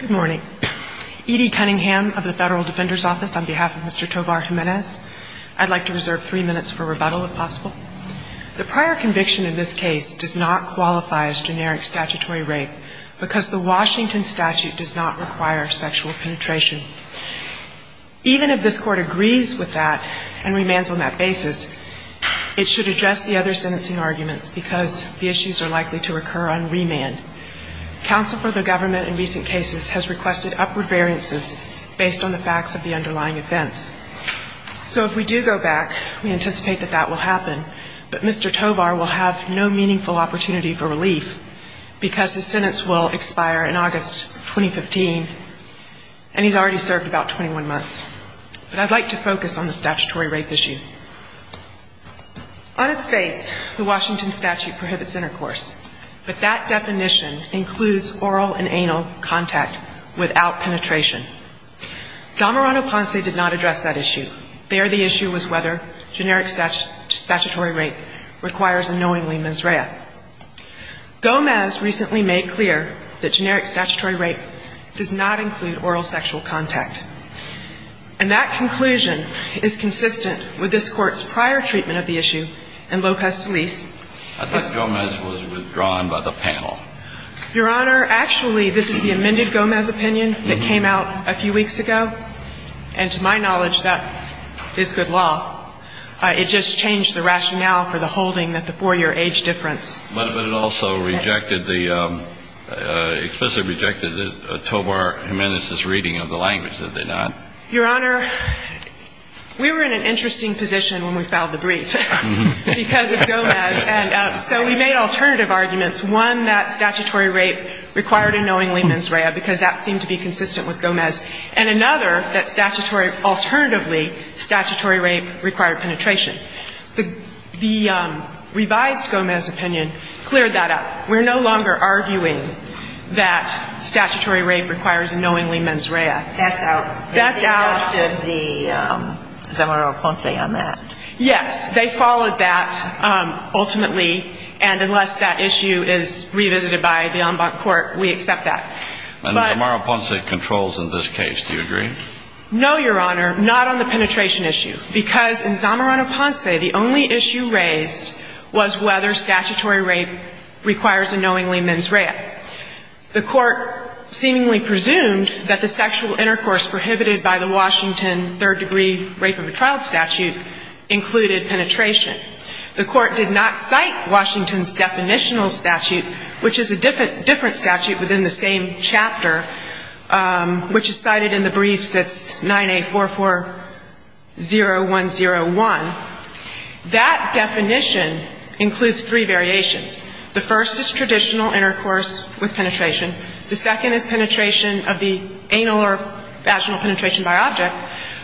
Good morning. Edie Cunningham of the Federal Defender's Office on behalf of Mr. Tovar-Jimenez. I'd like to reserve three minutes for rebuttal, if possible. The prior conviction in this case does not qualify as generic statutory rape because the Washington statute does not require sexual penetration. Even if this Court agrees with that and remands on that basis, it should address the other sentencing arguments because the issues are likely to occur on recent cases has requested upward variances based on the facts of the underlying offense. So if we do go back, we anticipate that that will happen, but Mr. Tovar will have no meaningful opportunity for relief because his sentence will expire in August 2015, and he's already served about 21 months. But I'd like to focus on the statutory rape issue. On its base, the Washington statute prohibits intercourse, but that definition includes oral and anal contact without penetration. Zamorano-Ponce did not address that issue. There, the issue was whether generic statutory rape requires a knowingly mens rea. Gomez recently made clear that generic statutory rape does not include oral sexual contact, and that conclusion is consistent with this Court's prior treatment of the issue, and Lopez-Deliz. I think Gomez was withdrawn by the panel. Your Honor, actually, this is the amended Gomez opinion that came out a few weeks ago, and to my knowledge, that is good law. It just changed the rationale for the holding that the 4-year age difference. But it also rejected the, explicitly rejected Tovar Jimenez's reading of the language, did it not? Your Honor, we were in an interesting position when we filed the brief because of Gomez, and so we made alternative arguments, one, that statutory rape required a knowingly mens rea because that seemed to be consistent with Gomez, and another, that statutory rape, alternatively, statutory rape required penetration. The revised Gomez opinion cleared that up. We're no longer arguing that statutory rape requires a knowingly mens rea. That's out. That's out. But they followed the Zamorano-Ponce on that. Yes. They followed that ultimately, and unless that issue is revisited by the en banc court, we accept that. And the Zamorano-Ponce controls in this case, do you agree? No, Your Honor, not on the penetration issue, because in Zamorano-Ponce, the only issue raised was whether statutory rape requires a knowingly mens rea. The Court seemingly presumed that the sexual intercourse prohibited by the Washington third degree rape of a child statute included penetration. The Court did not cite Washington's definitional statute, which is a different statute within the same chapter, which is cited in the briefs. It's 9A440101. That definition includes three variations. The first is traditional intercourse with penetration. The second is penetration of the anal or vaginal penetration by object.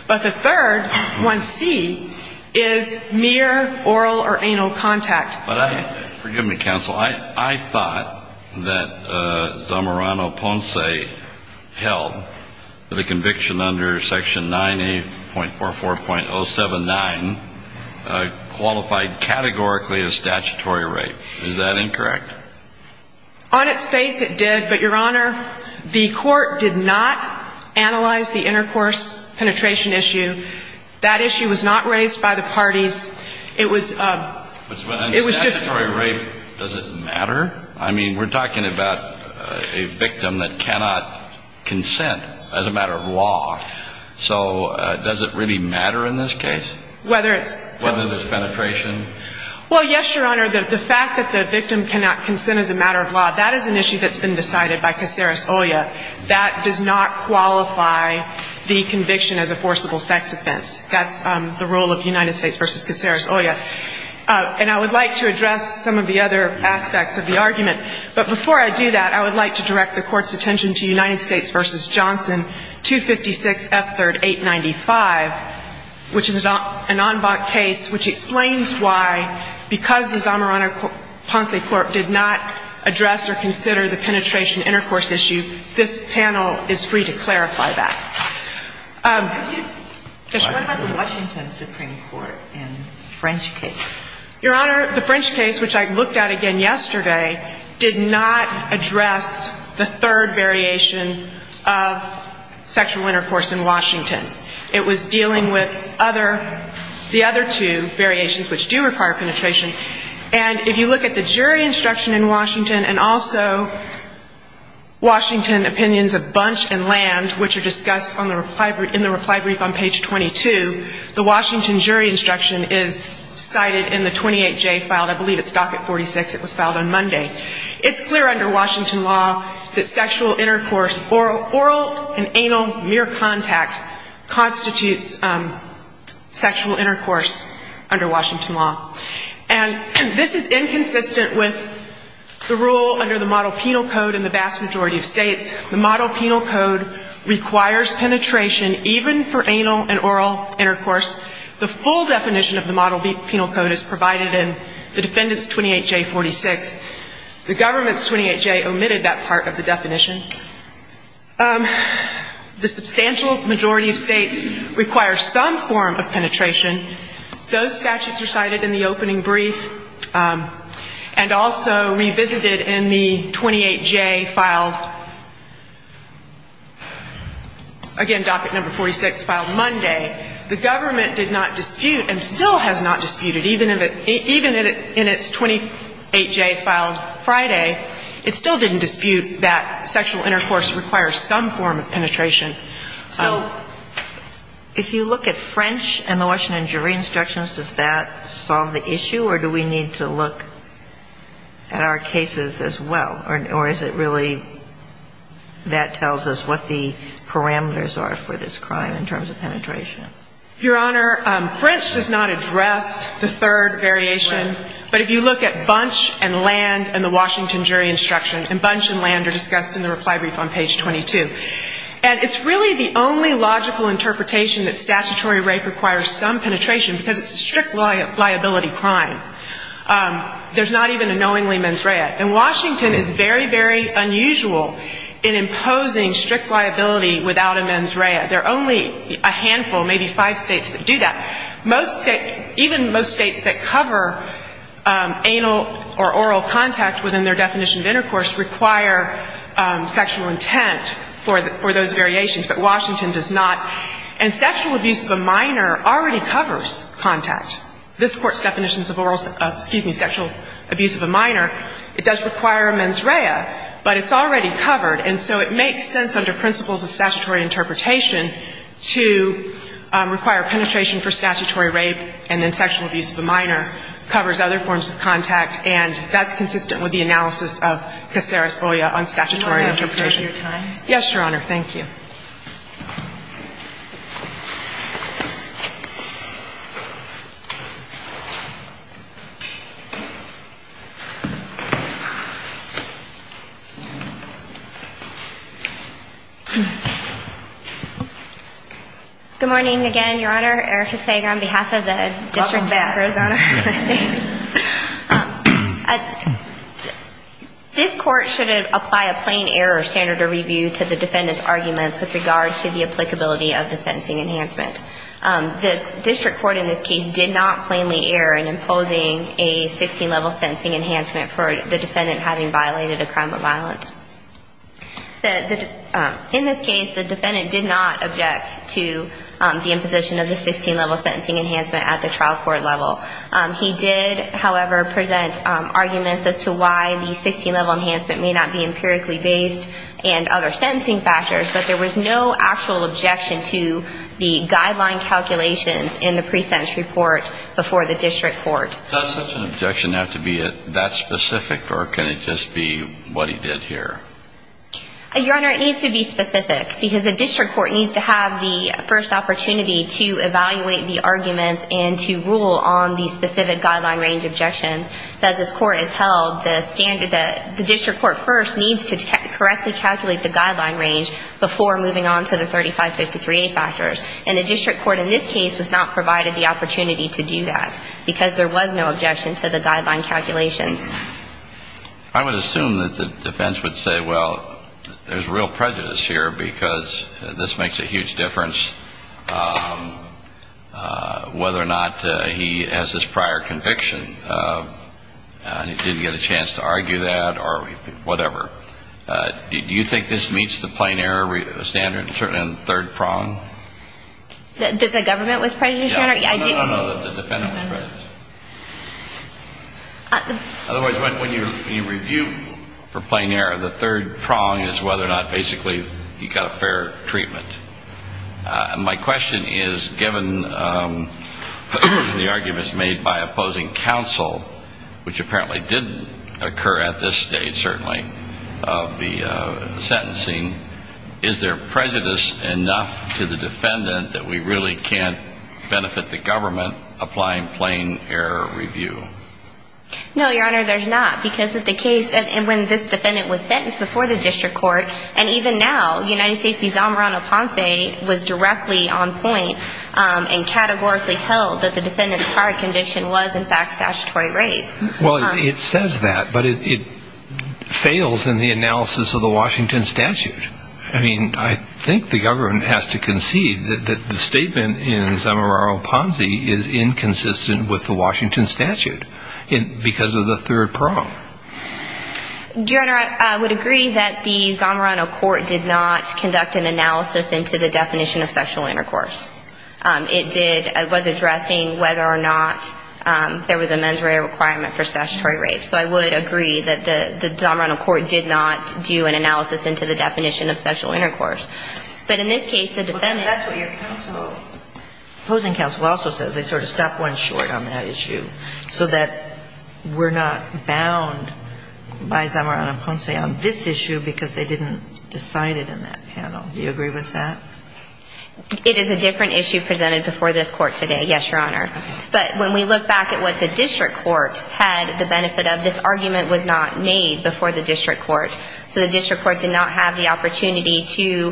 But the third, 1C, is mere oral or anal contact. But I – forgive me, counsel. I thought that Zamorano-Ponce held that a conviction under Section 9A.44.079 qualified categorically as statutory rape. Is that incorrect? On its face, it did. But, Your Honor, the Court did not analyze the intercourse penetration issue. That issue was not raised by the parties. It was – it was just – But statutory rape, does it matter? I mean, we're talking about a victim that cannot consent as a matter of law. So does it really matter in this case? Whether it's – Whether there's penetration? Well, yes, Your Honor. The fact that the victim cannot consent as a matter of law, that is an issue that's been decided by Caceres-Olla. That does not qualify the conviction as a forcible sex offense. That's the rule of United States v. Caceres-Olla. And I would like to address some of the other aspects of the argument. But before I do that, I would like to direct the Court's attention to United States v. Johnson 256 F3rd 895, which is an en banc case which explains why, because the Zamorano-Ponce court did not address or consider the penetration intercourse issue, this panel is free to clarify that. Could you – Yes. What about the Washington Supreme Court in the French case? Your Honor, the French case, which I looked at again yesterday, did not address the third variation of sexual intercourse in Washington. It was dealing with other – the other two variations, which do require penetration. And if you look at the jury instruction in Washington and also Washington opinions of Bunch and Land, which are discussed on the reply – in the reply brief on page 22, the Washington jury instruction is cited in the 28J file. I believe it's docket 46. It was filed on Monday. It's clear under Washington law that sexual intercourse, oral and anal mere contact constitutes sexual intercourse under Washington law. And this is inconsistent with the rule under the Model Penal Code in the vast majority of states. The Model Penal Code requires penetration even for anal and oral intercourse. The full definition of the Model Penal Code is provided in the defendant's 28J46. The government's 28J omitted that part of the definition. The substantial majority of states require some form of penetration. Those statutes are cited in the opening brief and also revisited in the 28J file. Again, docket number 46 filed Monday. The government did not dispute and still has not disputed, even in its 28J filed Friday, it still didn't dispute that sexual intercourse requires some form of penetration. So if you look at French and the Washington jury instructions, does that solve the issue, or do we need to look at our cases as well? Or is it really that tells us what the parameters are for this crime in terms of penetration? Your Honor, French does not address the third variation, but if you look at Bunch and Land and the Washington jury instructions, and Bunch and Land are discussed in the reply brief on page 22. And it's really the only logical interpretation that statutory rape requires some penetration because it's a strict liability crime. There's not even a knowingly mens rea. And Washington is very, very unusual in imposing strict liability without a mens rea. There are only a handful, maybe five states that do that. Most states, even most states that cover anal or oral contact within their definition of intercourse require sexual intent for those variations, but Washington does not. And sexual abuse of a minor already covers contact. This Court's definitions of oral, excuse me, sexual abuse of a minor, it does require a mens rea, but it's already covered. And so it makes sense under principles of statutory interpretation to require penetration for statutory rape, and then sexual abuse of a minor covers other forms of contact. And that's consistent with the analysis of Caceres-Oya on statutory interpretation. Yes, Your Honor. Thank you. Good morning again, Your Honor. Erica Sager on behalf of the District of Arizona. This Court should apply a plain error standard of review to the defendant's arguments with regard to the applicability of the sentencing enhancement. The District Court in this case did not plainly err in imposing a 16-level sentencing enhancement for the defendant having violated a crime of violence. In this case, the defendant did not object to the imposition of the 16-level sentencing enhancement at the trial court level. He did, however, present arguments as to why the 16-level enhancement may not be empirically based and other sentencing factors, but there was no actual objection to the guideline calculations in the pre-sentence report before the District Court. Does such an objection have to be that specific, or can it just be what he did here? Your Honor, it needs to be specific, because the District Court needs to have the first opportunity to evaluate the arguments and to rule on the specific guideline range objections. As this Court has held, the standard that the District Court first needs to correctly calculate the guideline range before moving on to the 3553A factors. And the District Court in this case was not provided the opportunity to do that because there was no objection to the guideline calculations. I would assume that the defense would say, well, there's real prejudice here because this makes a huge difference whether or not he has this prior conviction. He didn't get a chance to argue that or whatever. Do you think this meets the plain error standard in the third prong? That the government was prejudiced, Your Honor? No, no, no, that the defendant was prejudiced. Otherwise, when you review for plain error, the third prong is whether or not basically he got a fair treatment. And my question is, given the arguments made by opposing counsel, which apparently didn't occur at this stage, certainly, of the sentencing, is there prejudice enough to the defendant that we really can't benefit the government applying plain error review? No, Your Honor, there's not. Because when this defendant was sentenced before the District Court, and even now, United States v. Zamorano Ponce was directly on point and categorically held that the defendant's prior conviction was, in fact, statutory rape. Well, it says that, but it fails in the analysis of the Washington statute. I mean, I think the government has to concede that the statement in Zamorano Ponce is inconsistent with the Washington statute because of the third prong. Your Honor, I would agree that the Zamorano court did not conduct an analysis into the definition of sexual intercourse. But in this case, the defendant ---- Well, that's what your counsel, opposing counsel, also says. They sort of stopped one short on that issue, so that we're not bound by Zamorano Ponce on this issue because they didn't decide it in that panel. Do you agree with that? It is a different issue presented before this Court today, yes, Your Honor. But when we look back at what the District Court had the benefit of, this argument was not made before the District Court. So the District Court did not have the opportunity to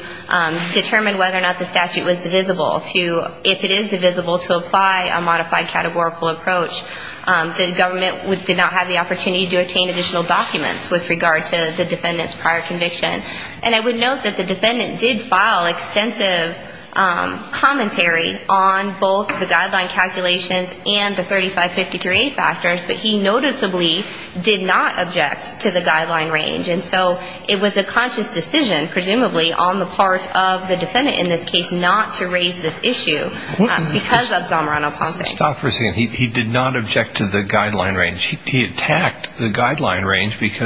determine whether or not the statute was divisible to, if it is divisible, to apply a modified categorical approach. The government did not have the opportunity to obtain additional documents with regard to the defendant's prior conviction. And I would note that the defendant did file extensive commentary on both the guideline calculations and the 3553A factors, but he noticeably did not object to the guideline range. And so it was a conscious decision, presumably, on the part of the defendant in this case not to raise this issue because of Zamorano Ponce. Stop for a second. He did not object to the guideline range. He attacked the guideline range. He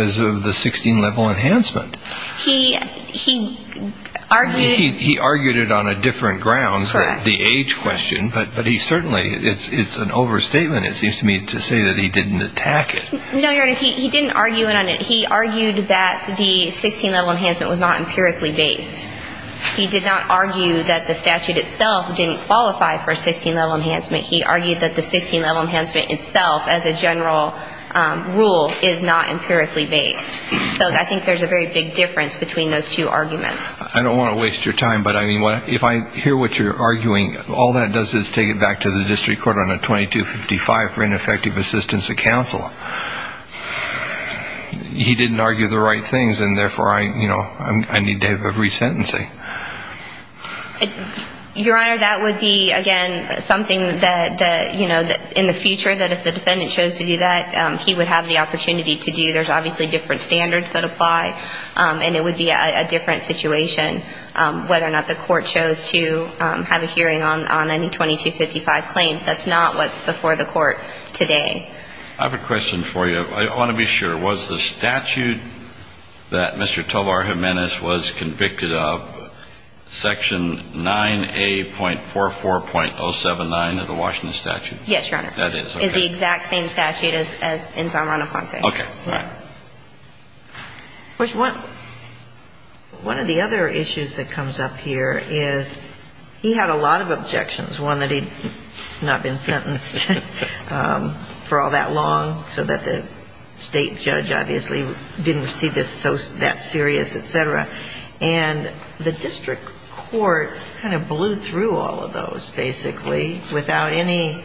argued it on a different ground, the age question. But he certainly, it's an overstatement, it seems to me, to say that he didn't attack it. No, Your Honor, he didn't argue it on it. He argued that the 16-level enhancement was not empirically based. He did not argue that the statute itself didn't qualify for a 16-level enhancement. He argued that the 16-level enhancement itself as a standard would be a good thing. But he did not argue that the 16-level enhancement was not a good thing. And so I think that there's a lot of difference between those two arguments. I don't want to waste your time, but I mean, if I hear what you're arguing, all that does is take it back to the district court on a 2255 for ineffective assistance of counsel. He didn't argue the right things, and therefore I need to have a resentencing. Your Honor, that would be, again, something that, you know, in the case of the 16-level enhancement, that would be a different situation, whether or not the court chose to have a hearing on any 2255 claim. That's not what's before the court today. I have a question for you. I want to be sure. Was the statute that Mr. Tovar Jimenez was convicted of Section 9A.44.079 of the Washington statute? Yes, Your Honor. That is, okay. It's the exact same statute as in Zamorano-Ponce. Okay. All right. One of the other issues that comes up here is he had a lot of objections, one that he had not been sentenced for all that long, so that the state judge obviously didn't see this so that serious, et cetera. And the district court kind of blew through all of those, basically, without any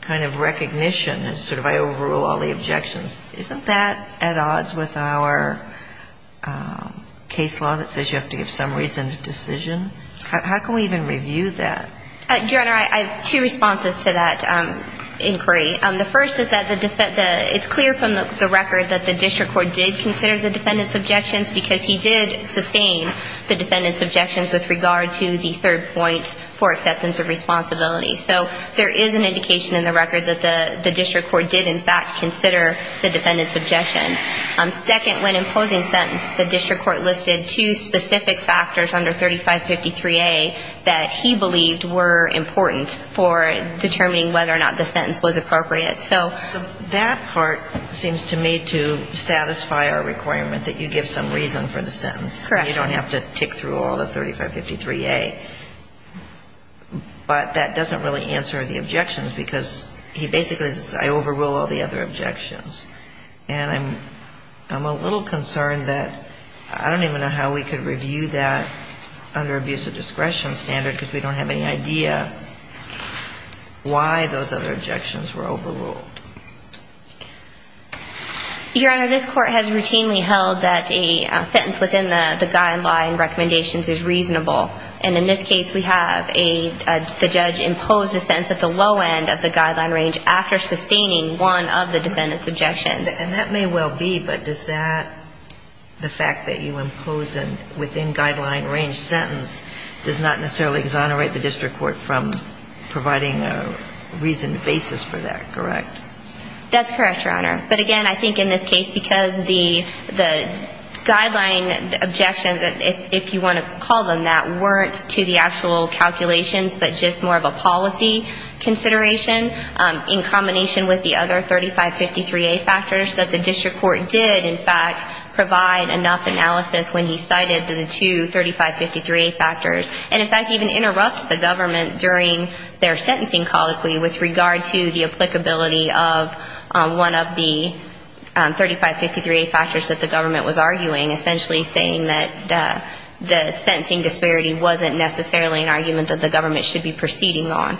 kind of recognition. Sort of I overrule all the objections. Isn't that at odds with our case law that says you have to give some reason to decision? How can we even review that? Your Honor, I have two responses to that inquiry. The first is that the defendant, it's clear from the record that the district court did consider the defendant's objections because he did sustain the defendant's objections with regard to the third point for acceptance of responsibility. So there is an indication in the record that the district court did, in fact, consider the defendant's objections. Second, when imposing sentence, the district court listed two specific factors under 3553A that he believed were important for determining whether or not the sentence was appropriate. So that part seems to me to satisfy our requirement that you give some reason for the sentence. Correct. You don't have to tick through all the 3553A. But that doesn't really answer the objections because he basically says I overrule all the other objections. And I'm a little concerned that I don't even know how we could review that under abuse of discretion standard because we don't have any idea why those other objections were overruled. Your Honor, this court has routinely held that a sentence within the guideline recommendations is reasonable. And in this case, we have a, the judge imposed a sentence at the low end of the guideline range after sustaining one of the defendant's objections. And that may well be, but does that, the fact that you impose a within guideline range sentence does not necessarily exonerate the district court from providing a reasoned basis for that, correct? That's correct, Your Honor. But again, I think in this case because the guideline objections, if you want to call them that, weren't to the actual calculations, but just more of a policy consideration in combination with the other 3553A factors that the district court did in fact provide enough analysis when he cited the two 3553A factors. And if that even interrupts the government during their sentencing colloquy with regard to the applicability of one of the 3553A factors that the government was arguing, essentially saying that the sentencing disparity wasn't necessarily an argument that the government should be proceeding on.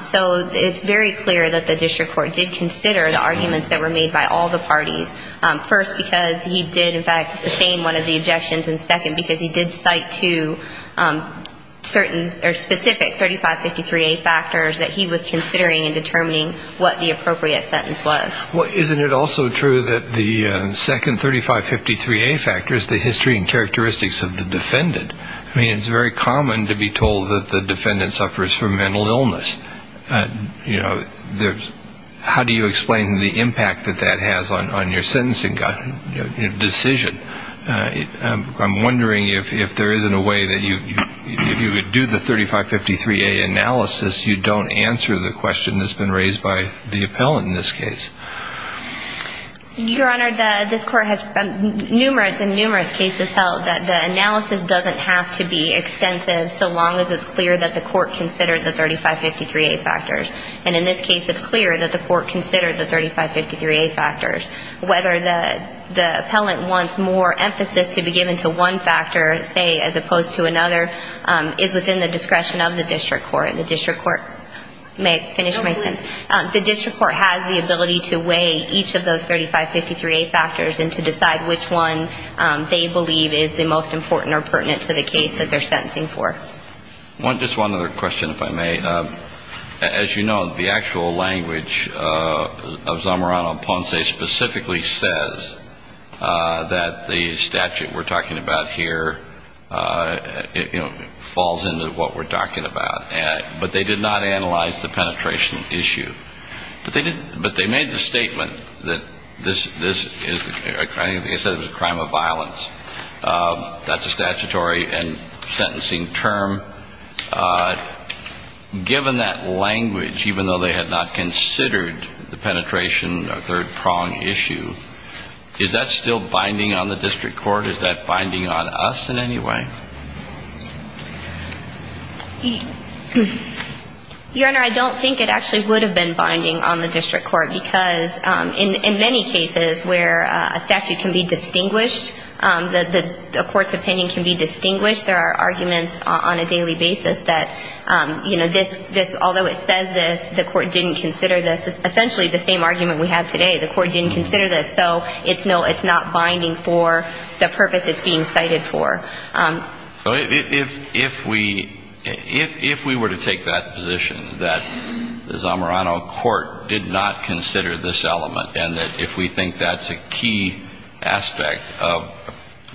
So it's very clear that the district court did consider the arguments that were made by all the parties, first because he did in fact sustain one of the objections, and second because he did cite to certain or specific 3553A factors that he was considering in determining what the appropriate sentence was. Isn't it also true that the second 3553A factor is the history and characteristics of the defendant? I mean, it's very common to be told that the defendant suffers from mental illness. You know, there's, how do you make that decision? I'm wondering if there isn't a way that you could do the 3553A analysis, you don't answer the question that's been raised by the appellant in this case. Your Honor, this court has numerous and numerous cases held that the analysis doesn't have to be extensive so long as it's clear that the court considered the 3553A factors. And in this case, it's clear that the court considered the 3553A factors, and the appellant wants more emphasis to be given to one factor, say, as opposed to another, is within the discretion of the district court. The district court may finish my sentence. The district court has the ability to weigh each of those 3553A factors and to decide which one they believe is the most important or pertinent to the case that they're sentencing for. Just one other question, if I may. As you know, the actual language of Zamorano Ponce specifically says that the statute we're talking about here, you know, falls into what we're talking about. But they did not analyze the penetration issue. But they made the statement that this is a crime of violence. That's a statutory and sentencing term. Given that language, even though they had not considered the penetration or third prong issue, is that still binding on the district court? Is that binding on us in any way? Your Honor, I don't think it actually would have been binding on the district court, because in many cases where a statute can be distinguished, the court's opinion can be distinguished. There are arguments on a daily basis that, you know, this, this, although it says this, the court didn't consider this, the court didn't consider this, essentially the same argument we have today, the court didn't consider this. So it's no, it's not binding for the purpose it's being cited for. Well, if, if we, if we were to take that position, that the Zamorano court did not consider this element, and that if we think that's a key aspect of,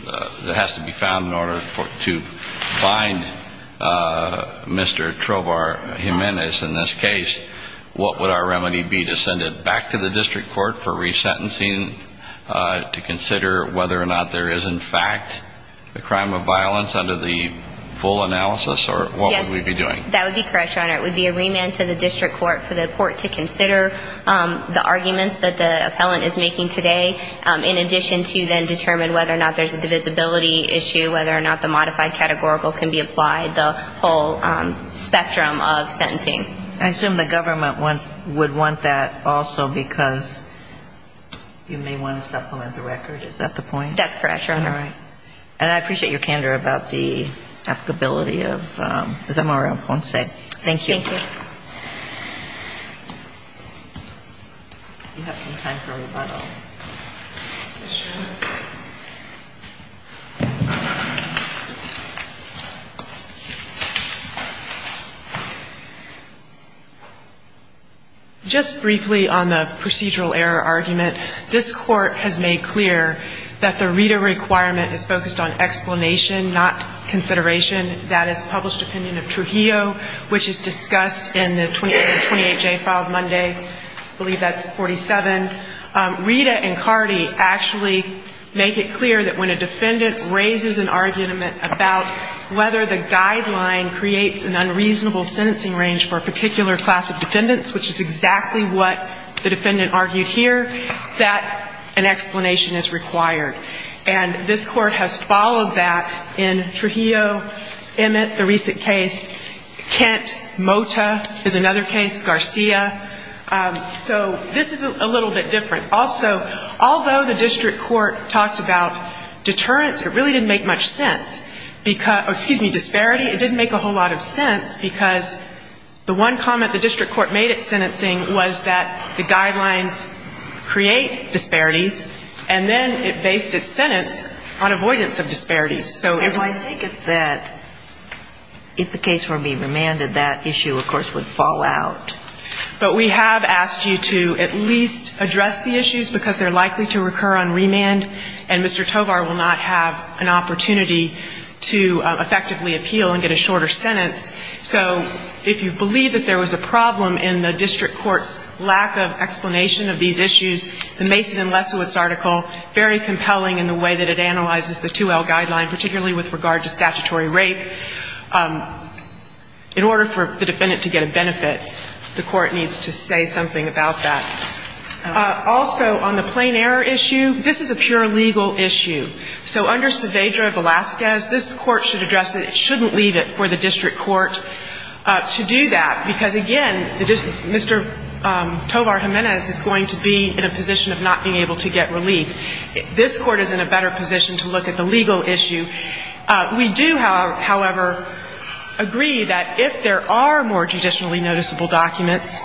that has to be found in order to find Mr. Trovar Jimenez in this case, what would our remedy be, to send it back to the district court for resentencing, to consider whether or not there is in fact a crime of violence under the full analysis, or what would we be doing? Yes, that would be correct, Your Honor. It would be a remand to the district court for the court to consider the arguments that the appellant is making today, in addition to then determine whether or not there's a divisibility issue, whether or not the modified categorical can be applied, the whole spectrum of sentencing. I assume the government wants, would want that also because you may want to supplement the record. Is that the point? That's correct, Your Honor. All right. And I appreciate your candor about the applicability of Zamorano Ponce. Thank you. Thank you. You have some time for rebuttal. Yes, Your Honor. Just briefly on the procedural error argument, this Court has made clear that the RITA requirement is focused on explanation, not consideration. In the case of Trujillo, which is discussed in the 28J filed Monday, I believe that's 47, RITA and CARDI actually make it clear that when a defendant raises an argument about whether the guideline creates an unreasonable sentencing range for a particular class of defendants, which is exactly what the defendant argued here, that an explanation is required. And this Court has followed that in Trujillo, Emmett, the recent case, Kent, Mota is another case, Garcia. So this is a little bit different. Also, although the district court talked about deterrence, it really didn't make much sense, excuse me, disparity, it didn't make a whole lot of sense because the one comment the district court made at sentencing was that the guidelines create disparities, and then it based its sentence on avoidance of disparities. So if I take it that if the case were to be remanded, that issue, of course, would fall out. But we have asked you to at least address the issues because they're likely to recur on remand, and Mr. Tovar will not have an opportunity to effectively appeal and get a shorter sentence. So if you believe that there was a problem in the district court's lack of explanation of these issues, the Mason and Lesowitz article, very compelling in the way that it analyzes the 2L guideline, particularly with regard to statutory rape. In order for the defendant to get a benefit, the Court needs to say something about that. Also, on the plain error issue, this is a pure legal issue. So under Saavedra Velazquez, this Court should address it. It shouldn't leave it for the district court to do that, because, again, Mr. Tovar Jimenez is going to be in a position of not being able to get relief. This Court is in a better position to look at the legal issue. We do, however, agree that if there are more judicially noticeable documents,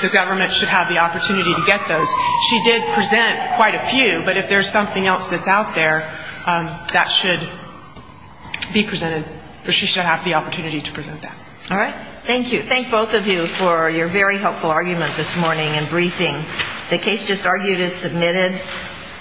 the government should have the opportunity to get those. She did present quite a few, but if there's something else that's out there, that should be the opportunity to present that. All right. Thank you. Thank both of you for your very helpful argument this morning and briefing. The case just argued is submitted.